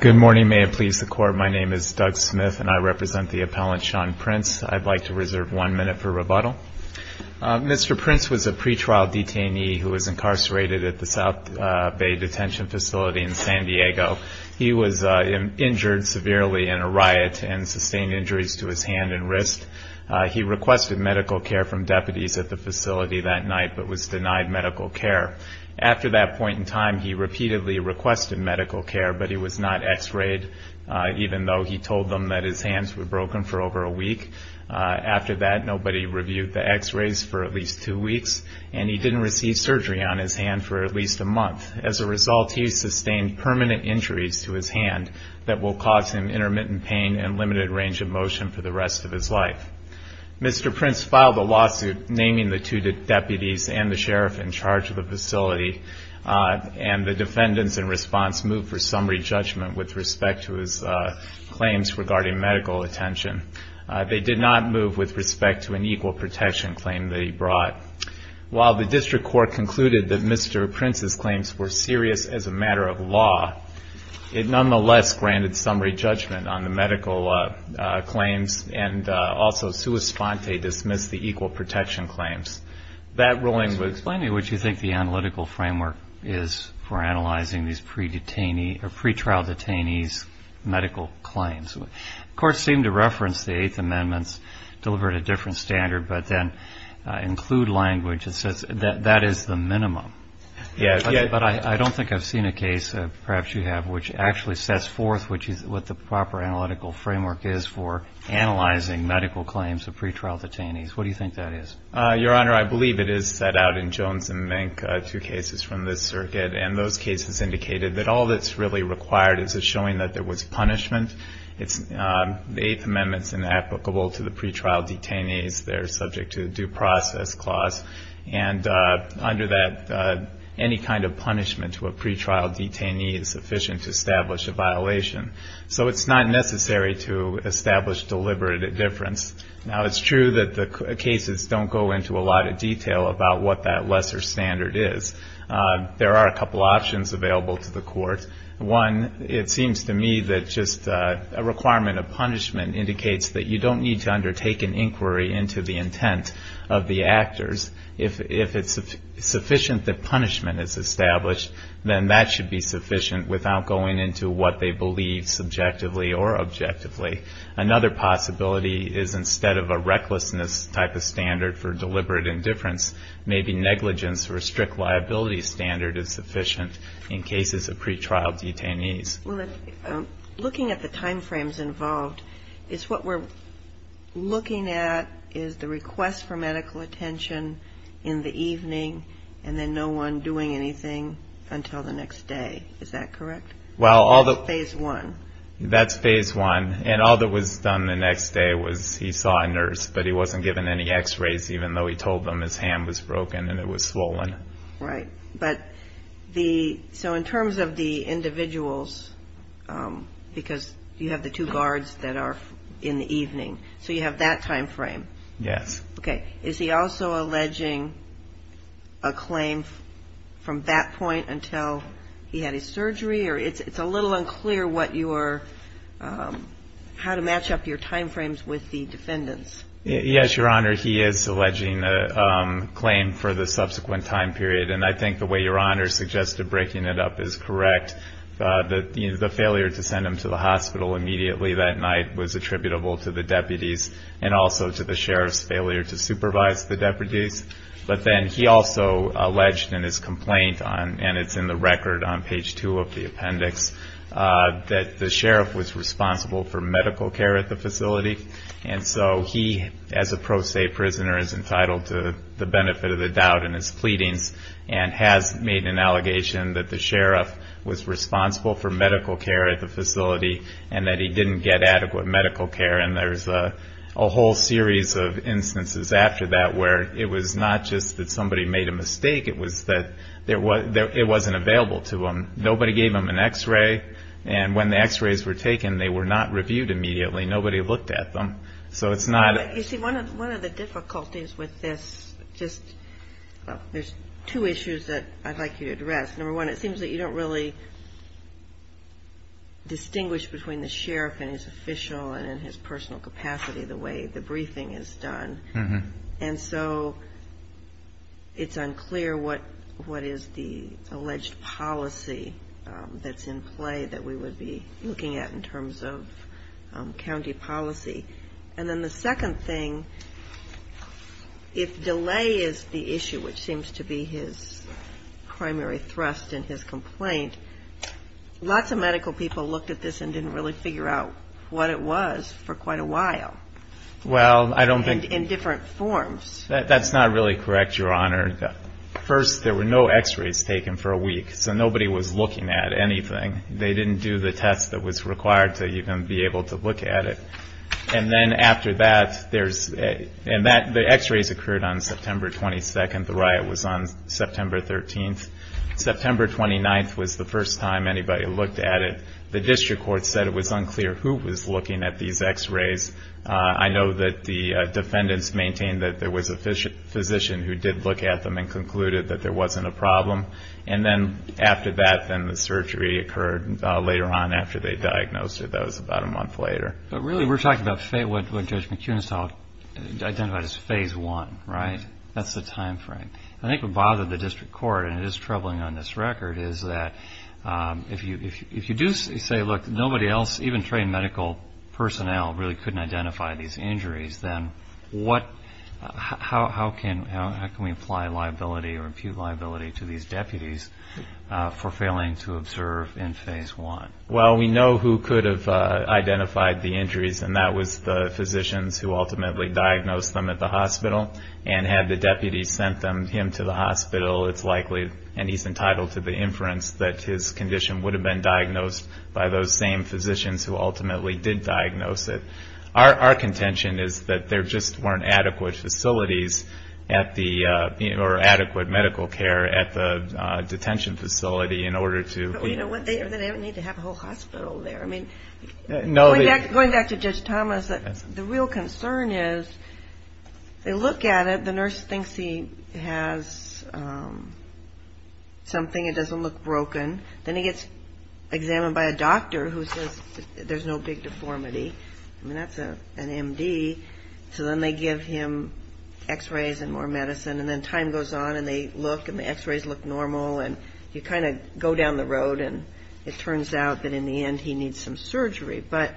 Good morning. May it please the Court, my name is Doug Smith and I represent the appellant Sean Prince. I'd like to reserve one minute for rebuttal. Mr. Prince was a pretrial detainee who was incarcerated at the South Bay Detention Facility in San Diego. He was injured severely in a riot and sustained injuries to his hand and wrist. He requested medical care from deputies at the facility that night but was denied medical care. After that point in time, he repeatedly requested medical care, but he was not x-rayed, even though he told them that his hands were broken for over a week. After that, nobody reviewed the x-rays for at least two weeks, and he didn't receive surgery on his hand for at least a month. As a result, he sustained permanent injuries to his hand that will cause him intermittent pain and limited range of motion for the rest of his life. Mr. Prince filed a lawsuit naming the two deputies and the sheriff in charge of the facility, and the defendants in response moved for summary judgment with respect to his claims regarding medical attention. They did not move with respect to an equal protection claim that he brought. While the district court concluded that Mr. Prince's claims were serious as a matter of law, it nonetheless granted summary judgment on the medical claims and also sua sponte dismissed the equal protection claims. That ruling would explain what you think the analytical framework is for analyzing these pre-detainee or pre-trial detainees' medical claims. Courts seem to reference the Eighth Amendments delivered at a different standard, but then include language that says that that is the minimum. But I don't think I've seen a case, perhaps you have, which actually sets forth what the proper analytical framework is for analyzing medical claims of pre-trial detainees. What do you think that is? Your Honor, I believe it is set out in Jones and Mink, two cases from this circuit, and those cases indicated that all that's really required is a showing that there was punishment. The Eighth Amendment's inapplicable to the pre-trial detainees. They're subject to a due process clause. And under that, any kind of punishment to a pre-trial detainee is sufficient to establish a violation. So it's not necessary to establish deliberate indifference. Now, it's true that the cases don't go into a lot of detail about what that lesser standard is. There are a couple options available to the Court. One, it seems to me that just a requirement of punishment indicates that you don't need to undertake an inquiry into the intent of the actors. If it's sufficient that punishment is established, then that should be sufficient without going into what they believe subjectively or objectively. Another possibility is instead of a recklessness type of standard for deliberate indifference, maybe negligence or a strict liability standard is sufficient in cases of pre-trial detainees. Well, looking at the time frames involved, it's what we're looking at is the request for medical attention in the evening and then no one doing anything until the next day. Is that correct? Well, all the... Phase one. That's phase one. And all that was done the next day was he saw a nurse, but he wasn't given any x-rays, even though he told them his hand was broken and it was swollen. Right. So in terms of the individuals, because you have the two guards that are in the evening, so you have that time frame. Yes. Okay. Is he also alleging a claim from that point until he had his surgery? Or it's a little unclear what your, how to match up your time frames with the defendant's. Yes, Your Honor. He is alleging a claim for the subsequent time period. And I think the way Your Honor suggested breaking it up is correct. The failure to send him to the hospital immediately that night was attributable to the deputies and also to the sheriff's failure to supervise the deputies. But then he also alleged in his complaint on, and it's in the record on page two of the appendix, that the sheriff was responsible for medical care at the facility. And so he, as a pro se prisoner, is entitled to the benefit of the doubt in his pleadings and has made an allegation that the sheriff was responsible for medical care at the facility and that he didn't get adequate medical care. And there's a whole series of instances after that where it was not just that somebody made a mistake, it was that it wasn't available to him. Nobody gave him an x-ray. And when the x-rays were taken, they were not reviewed immediately. Nobody looked at them. So it's not a... You see, one of the difficulties with this, just, there's two issues that I'd like you to address. Number one, it seems that you don't really distinguish between the sheriff and his official and in his personal capacity the way the briefing is done. And so it's unclear what is the alleged policy that's in play that we would be looking at in terms of county policy. And then the second thing, if delay is the issue, which seems to be his primary thrust in his complaint, lots of medical people looked at this and didn't really figure out what it was for quite a while. Well, I don't think... In different forms. That's not really correct, Your Honor. First, there were no x-rays taken for a week. So nobody was looking at anything. They didn't do the test that was required to even be able to look at it. And then after that, there's... And the x-rays occurred on September 22nd. The riot was on September 13th. September 29th was the first time anybody looked at it. The district court said it was unclear who was looking at these x-rays. I know that the defendants maintained that there was a physician who did look at them and concluded that there wasn't a problem. And then after that, then the surgery occurred later on after they diagnosed her. That was about a month later. But really, we're talking about what Judge McInnes identified as phase one, right? That's the time frame. I think what bothered the district court, and it is troubling on this record, is that if you do say, look, nobody else, even trained medical personnel, really couldn't identify these injuries, then what... How can we apply liability or impute liability to these deputies for failing to observe in phase one? Well, we know who could have identified the injuries, and that was the physicians who ultimately diagnosed them at the hospital. And had the deputies sent him to the hospital, it's likely, and he's entitled to the inference, that his condition would have been diagnosed by those same physicians who ultimately did diagnose it. Our contention is that there just weren't adequate facilities at the... Or adequate medical care at the detention facility in order to... Well, you know what? They don't need to have a whole hospital there. I mean, going back to Judge Thomas, the real concern is, they look at it, the nurse thinks he has something, it doesn't look broken. Then he gets examined by a doctor who says there's no big deformity. I mean, that's an MD. So then they give him x-rays and more medicine, and then time goes on and they look, and the x-rays look normal, and you kind of go down the road, and it turns out that in the end he needs some surgery. But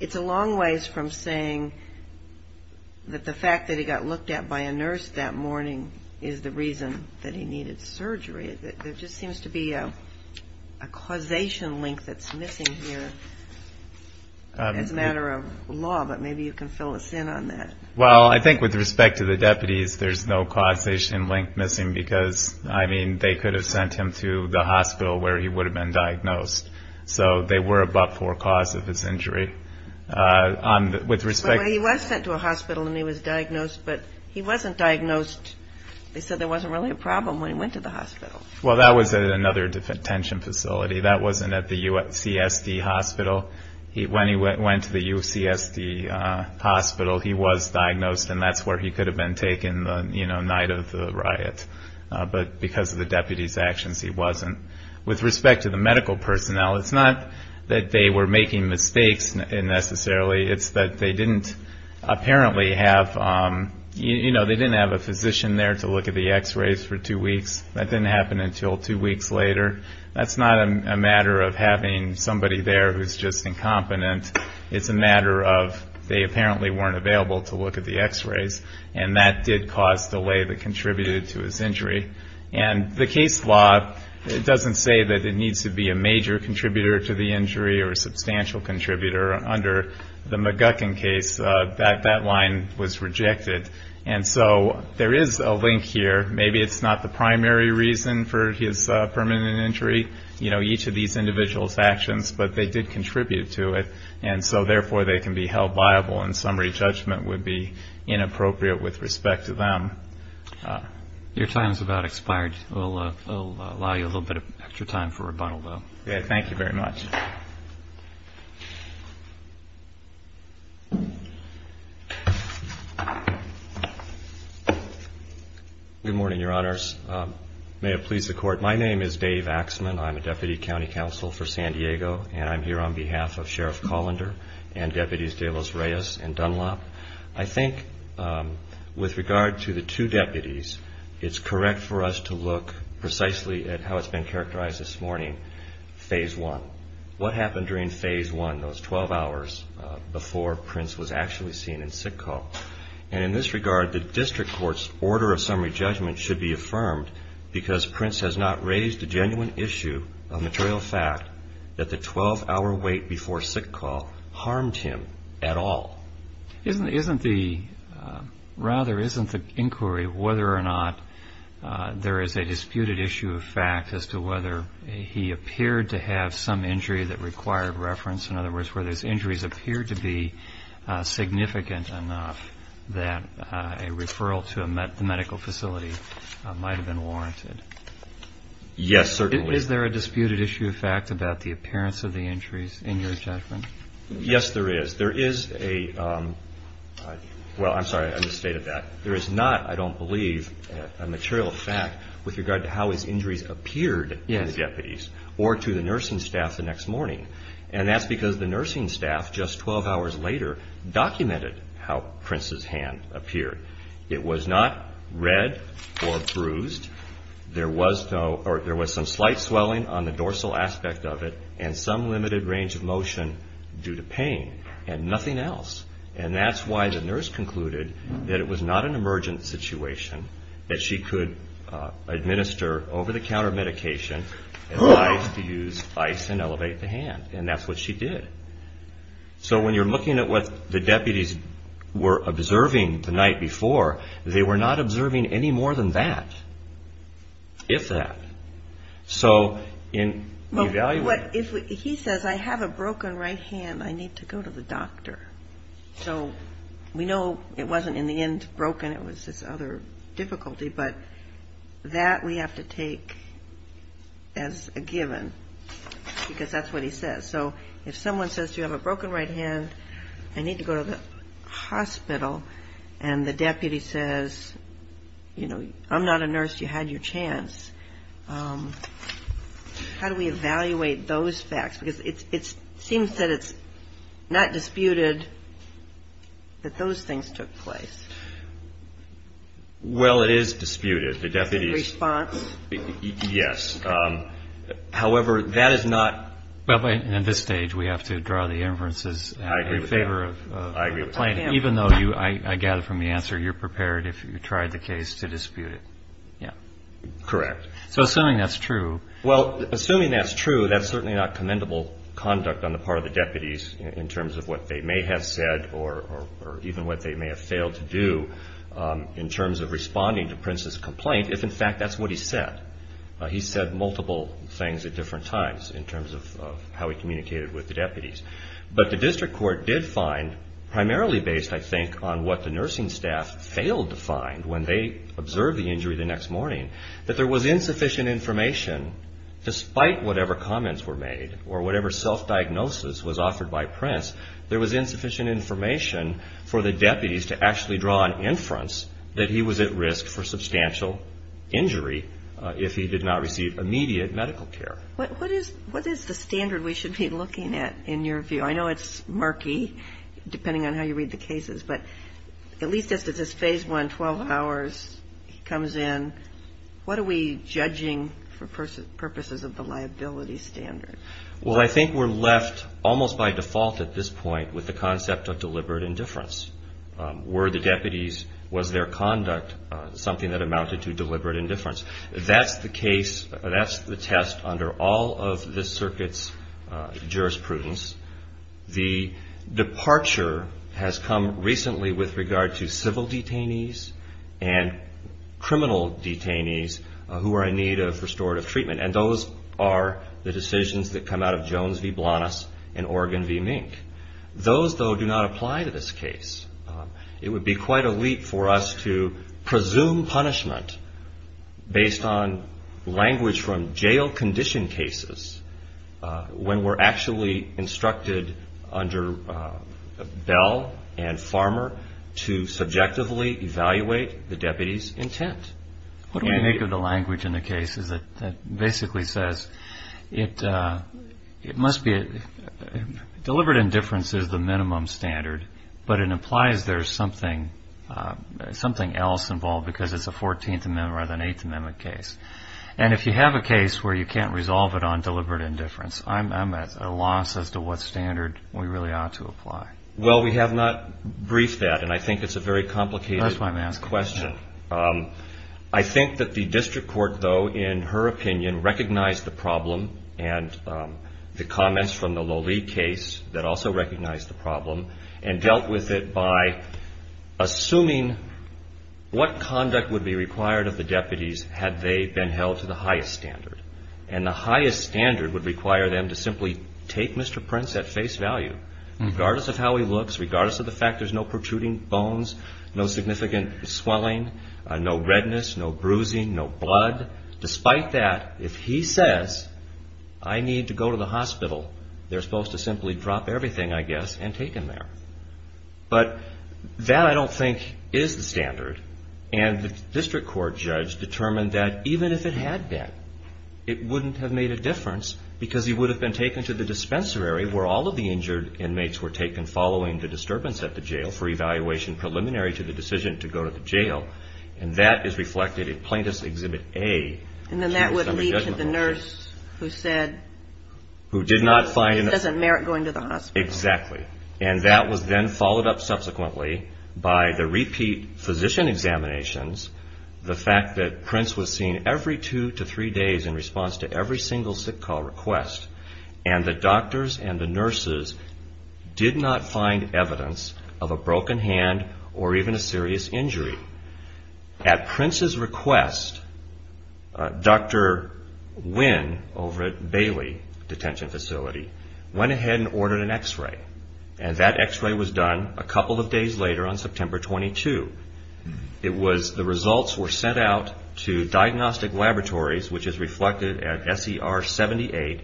it's a long ways from saying that the fact that he got looked at by a nurse that morning is the reason that he needed surgery. There just seems to be a causation link that's missing here as a matter of law, but maybe you can fill us in on that. Well, I think with respect to the deputies, there's no causation link missing because, I mean, they could have sent him to the hospital where he would have been diagnosed. So they were above forecast of his injury. He was sent to a hospital and he was diagnosed, but he wasn't diagnosed, they said there wasn't really a problem when he went to the hospital. Well, that was at another detention facility. That wasn't at the UCSD hospital. When he went to the UCSD hospital, he was diagnosed, and that's where he could have been taken in the night of the riot. But because of the deputies' actions, he wasn't. With respect to the medical personnel, it's not that they were making mistakes necessarily. It's that they didn't apparently have, you know, they didn't have a physician there to look at the x-rays for two weeks. That didn't happen until two weeks later. That's not a matter of having somebody there who's just incompetent. It's a matter of they apparently weren't available to look at the x-rays, and that did cause delay that contributed to his injury. And the case law doesn't say that it needs to be a major contributor to the injury or a substantial contributor. Under the McGuckin case, that line was rejected. And so there is a link here. Maybe it's not the primary reason for his permanent injury, you know, each of these individuals' actions, but they did contribute to it, and so therefore they can be held liable, and summary judgment would be inappropriate with respect to them. Your time's about expired. We'll allow you a little bit of extra time for rebuttal, though. Okay. Thank you very much. Good morning, Your Honors. May it please the Court, my name is Dave Axman. I'm a Deputy on behalf of Sheriff Colander and Deputies De Los Reyes and Dunlop. I think with regard to the two deputies, it's correct for us to look precisely at how it's been characterized this morning, phase one. What happened during phase one, those 12 hours before Prince was actually seen in sick call? And in this regard, the District Court's order of summary judgment should be affirmed because Prince has not raised a genuine issue, a material fact, that the 12-hour wait before sick call harmed him at all. Isn't the, rather, isn't the inquiry whether or not there is a disputed issue of fact as to whether he appeared to have some injury that required reference? In other words, were those injuries appeared to be significant enough that a referral to a medical facility might have been warranted? Yes, certainly. Is there a disputed issue of fact about the appearance of the injuries in your judgment? Yes, there is. There is a, well, I'm sorry, I misstated that. There is not, I don't believe, a material fact with regard to how his injuries appeared to the deputies or to the nursing staff the next morning. And that's because the nursing staff, just 12 hours later, documented how Prince's hand appeared. It was not red or bruised. There was no, or there was some slight swelling on the dorsal aspect of it and some limited range of motion due to pain and nothing else. And that's why the nurse concluded that it was not an emergent situation, that she could administer over-the-counter medication and ice to use ice and elevate the hand. And that's what she did. So when you're looking at what the deputies were observing the night before, they were not observing any more than that, if that. So in evaluating... He says, I have a broken right hand, I need to go to the doctor. So we know it wasn't in the end broken, it was this other difficulty, but that we have to take as a given, because that's what he says. So if someone says to you, I have a broken right hand, I need to go to the hospital, and the deputy says, I'm not a nurse, you had your chance, how do we evaluate those facts? Because it seems that it's not disputed that those things took place. Well it is disputed. The deputy's response? Yes. However, that is not... At this stage, we have to draw the inferences in favor of the complaint, even though I gather from the answer, you're prepared, if you tried the case, to dispute it. Correct. So assuming that's true... Well, assuming that's true, that's certainly not commendable conduct on the part of the deputies, in terms of what they may have said, or even what they may have failed to do, in terms of responding to Prince's complaint, if in fact that's what he said. He said multiple things at different times, in terms of how he communicated with the deputies. But the district court did find, primarily based, I think, on what the nursing staff failed to find when they observed the injury the next morning, that there was insufficient information, despite whatever comments were made, or whatever self-diagnosis was offered by Prince, there was insufficient information for the deputies to actually draw an inference that he was at risk for substantial injury if he did not receive immediate medical care. What is the standard we should be looking at, in your view? I know it's murky, depending on how you read the cases, but at least as this Phase 1, 12 hours comes in, what are we judging for purposes of the liability standard? Well, I think we're left, almost by default at this point, with the concept of deliberate indifference. Were the deputies, was their conduct something that amounted to deliberate indifference? That's the case, that's the test under all of this circuit's jurisprudence. The departure has come recently with regard to civil detainees and criminal detainees who are in need of restorative treatment, and those are the decisions that come out of Jones v. Blanas and Oregon v. Mink. Those, though, do not apply to this case. It would be quite a leap for us to presume punishment based on language from jail condition cases when we're actually instructed under Bell and Farmer to subjectively evaluate the deputy's intent. What do we make of the language in the cases that basically says, it must be, deliberate indifference is the minimum standard, but it implies there's something else involved because it's a 14th Amendment rather than an 8th Amendment case. And if you have a case where you can't resolve it on deliberate indifference, I'm at a loss as to what standard we really ought to apply. Well, we have not briefed that, and I think it's a very complicated question. I think that the district court, though, in her opinion, recognized the problem and the comments from the Lully case that also recognized the problem and dealt with it by assuming what conduct would be required of the deputies had they been held to the highest standard. And the highest standard would require them to simply take Mr. Prince at face value, regardless of how he looks, regardless of the fact there's no protruding bones, no significant swelling, no redness, no bruising, no blood. Despite that, if he says, I need to go to the hospital, they're supposed to simply drop everything, I guess, and take him there. But that I don't think is the standard, and the district court judge determined that even if it had been, it wouldn't have made a difference because he would have been taken to the dispensary where all of the injured inmates were taken following the disturbance at the jail for evaluation preliminary to the decision to go to the jail. And that is reflected in Plaintiff's Exhibit A. And then that would lead to the nurse who said he doesn't merit going to the hospital. Exactly. And that was then followed up subsequently by the repeat physician examinations, the fact that Prince was seen every two to three days in response to every single sick call request, and the doctors and the nurses did not find evidence of a broken hand or even a serious injury. At Prince's request, Dr. Wynn over at Bailey Detention Facility went ahead and ordered an X-ray, and that X-ray was done a couple of days later on September 22. The results were sent out to diagnostic laboratories, which is reflected at SER 78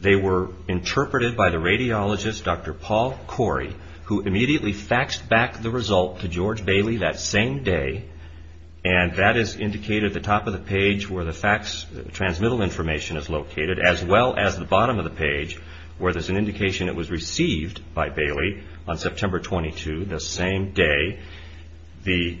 They were interpreted by the radiologist Dr. Paul Corey, who immediately faxed back the result to George Bailey that same day, and that is indicated at the top of the page where the fax transmittal information is located, as well as the bottom of the page where there's an indication it was received by Bailey on September 22 the same day. The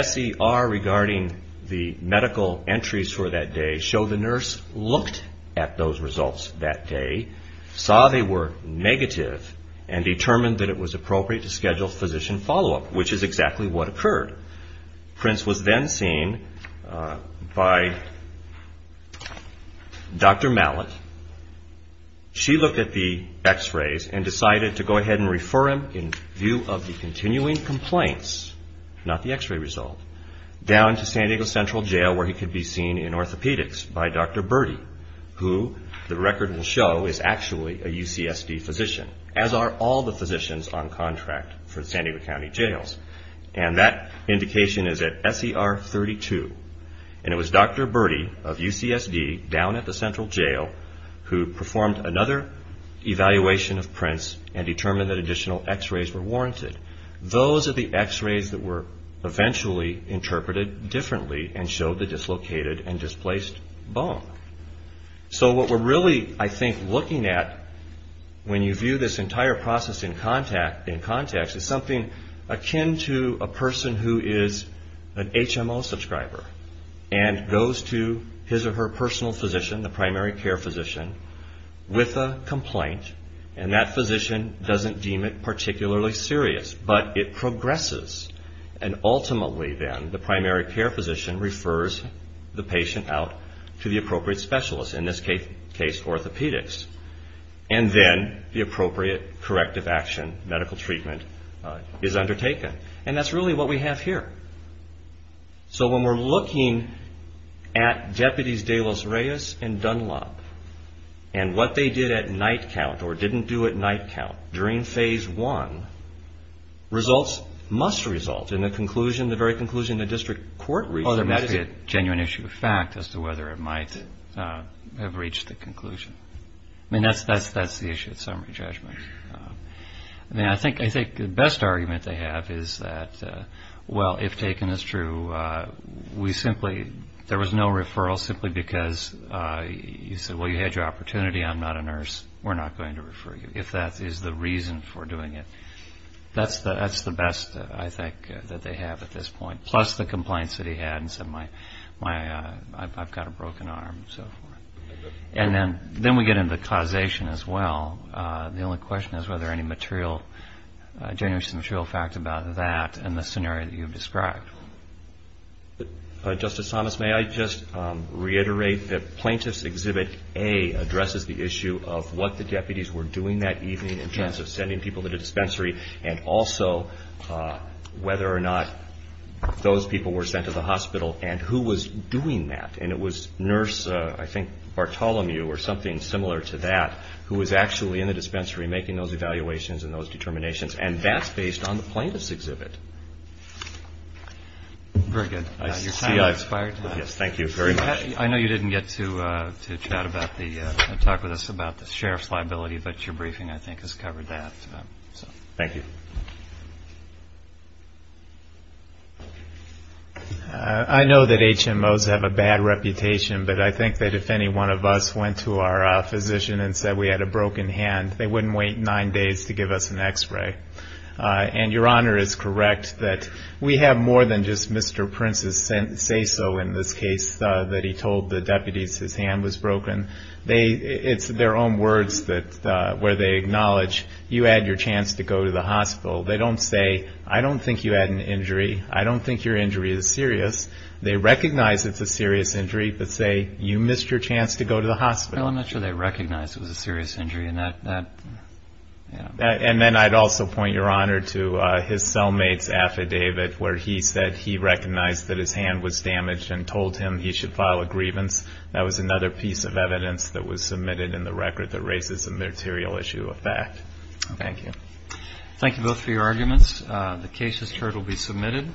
SER regarding the medical entries for that day show the nurse looked at those results that day, saw they were negative, and determined that it was appropriate to schedule physician follow-up, which is exactly what occurred. Prince was then seen by Dr. Mallett. She looked at the X-rays and decided to go ahead and refer him, in view of the continuing complaints, not to San Diego Central Jail where he could be seen in orthopedics by Dr. Berti, who the record will show is actually a UCSD physician, as are all the physicians on contract for San Diego County Jails. That indication is at SER 32. It was Dr. Berti of UCSD down at the Central Jail who performed another evaluation of Prince and determined that additional X-rays were warranted. Those are the X-rays that were eventually interpreted differently and showed the dislocated and displaced bone. So what we're really, I think, looking at when you view this entire process in context is something akin to a person who is an HMO subscriber and goes to his or her personal physician, the primary care physician, with a complaint, and that physician doesn't deem it particularly serious, but it progresses. And ultimately, then, the primary care physician refers the patient out to the appropriate specialist, in this case orthopedics, and then the appropriate corrective action, medical treatment, is undertaken. And that's really what we have here. So when we're looking at Deputies De Los Reyes and Dunlop and what they did at night count or didn't do at night count during phase one, results must result in the conclusion, the very conclusion the district court reached. Oh, there must be a genuine issue of fact as to whether it might have reached the conclusion. I mean, that's the issue of summary judgment. I mean, I think the best argument they have is that, well, if taken as true, we simply, there was no referral simply because you said, well, you had your opportunity, I'm not a nurse, we're not going to refer you, if that is the reason for doing it. That's the best, I think, that they have at this point, plus the complaints that he had and said, my, I've got a broken arm, and so forth. And then we get into causation as well. The only question is whether any material, genuine case, material fact about that and the scenario that you've described. Justice Thomas, may I just reiterate that Plaintiff's Exhibit A addresses the issue of what the deputies were doing that evening in terms of sending people to the dispensary and also whether or not those people were sent to the hospital and who was doing that. And it was Nurse, I think, Bartolomew or something similar to that, who was actually in the dispensary making those evaluations and those determinations. And that's based on the Plaintiff's Exhibit. Very good. Your time has expired. Yes, thank you very much. I know you didn't get to chat about the, talk with us about the sheriff's liability, but your briefing, I think, has covered that. Thank you. I know that HMOs have a bad reputation, but I think that if any one of us went to our broken hand, they wouldn't wait nine days to give us an x-ray. And Your Honor is correct that we have more than just Mr. Prince's say-so in this case that he told the deputies his hand was broken. They, it's their own words that, where they acknowledge, you had your chance to go to the hospital. They don't say, I don't think you had an injury. I don't think your injury is serious. They recognize it's a serious injury, but say, you missed your chance to go to the hospital. Well, I'm not sure they recognize it was a serious injury. And that, that, you know. And then I'd also point Your Honor to his cellmate's affidavit where he said he recognized that his hand was damaged and told him he should file a grievance. That was another piece of evidence that was submitted in the record that raises a material issue of fact. Thank you. Thank you both for your arguments. The case has heard will be submitted.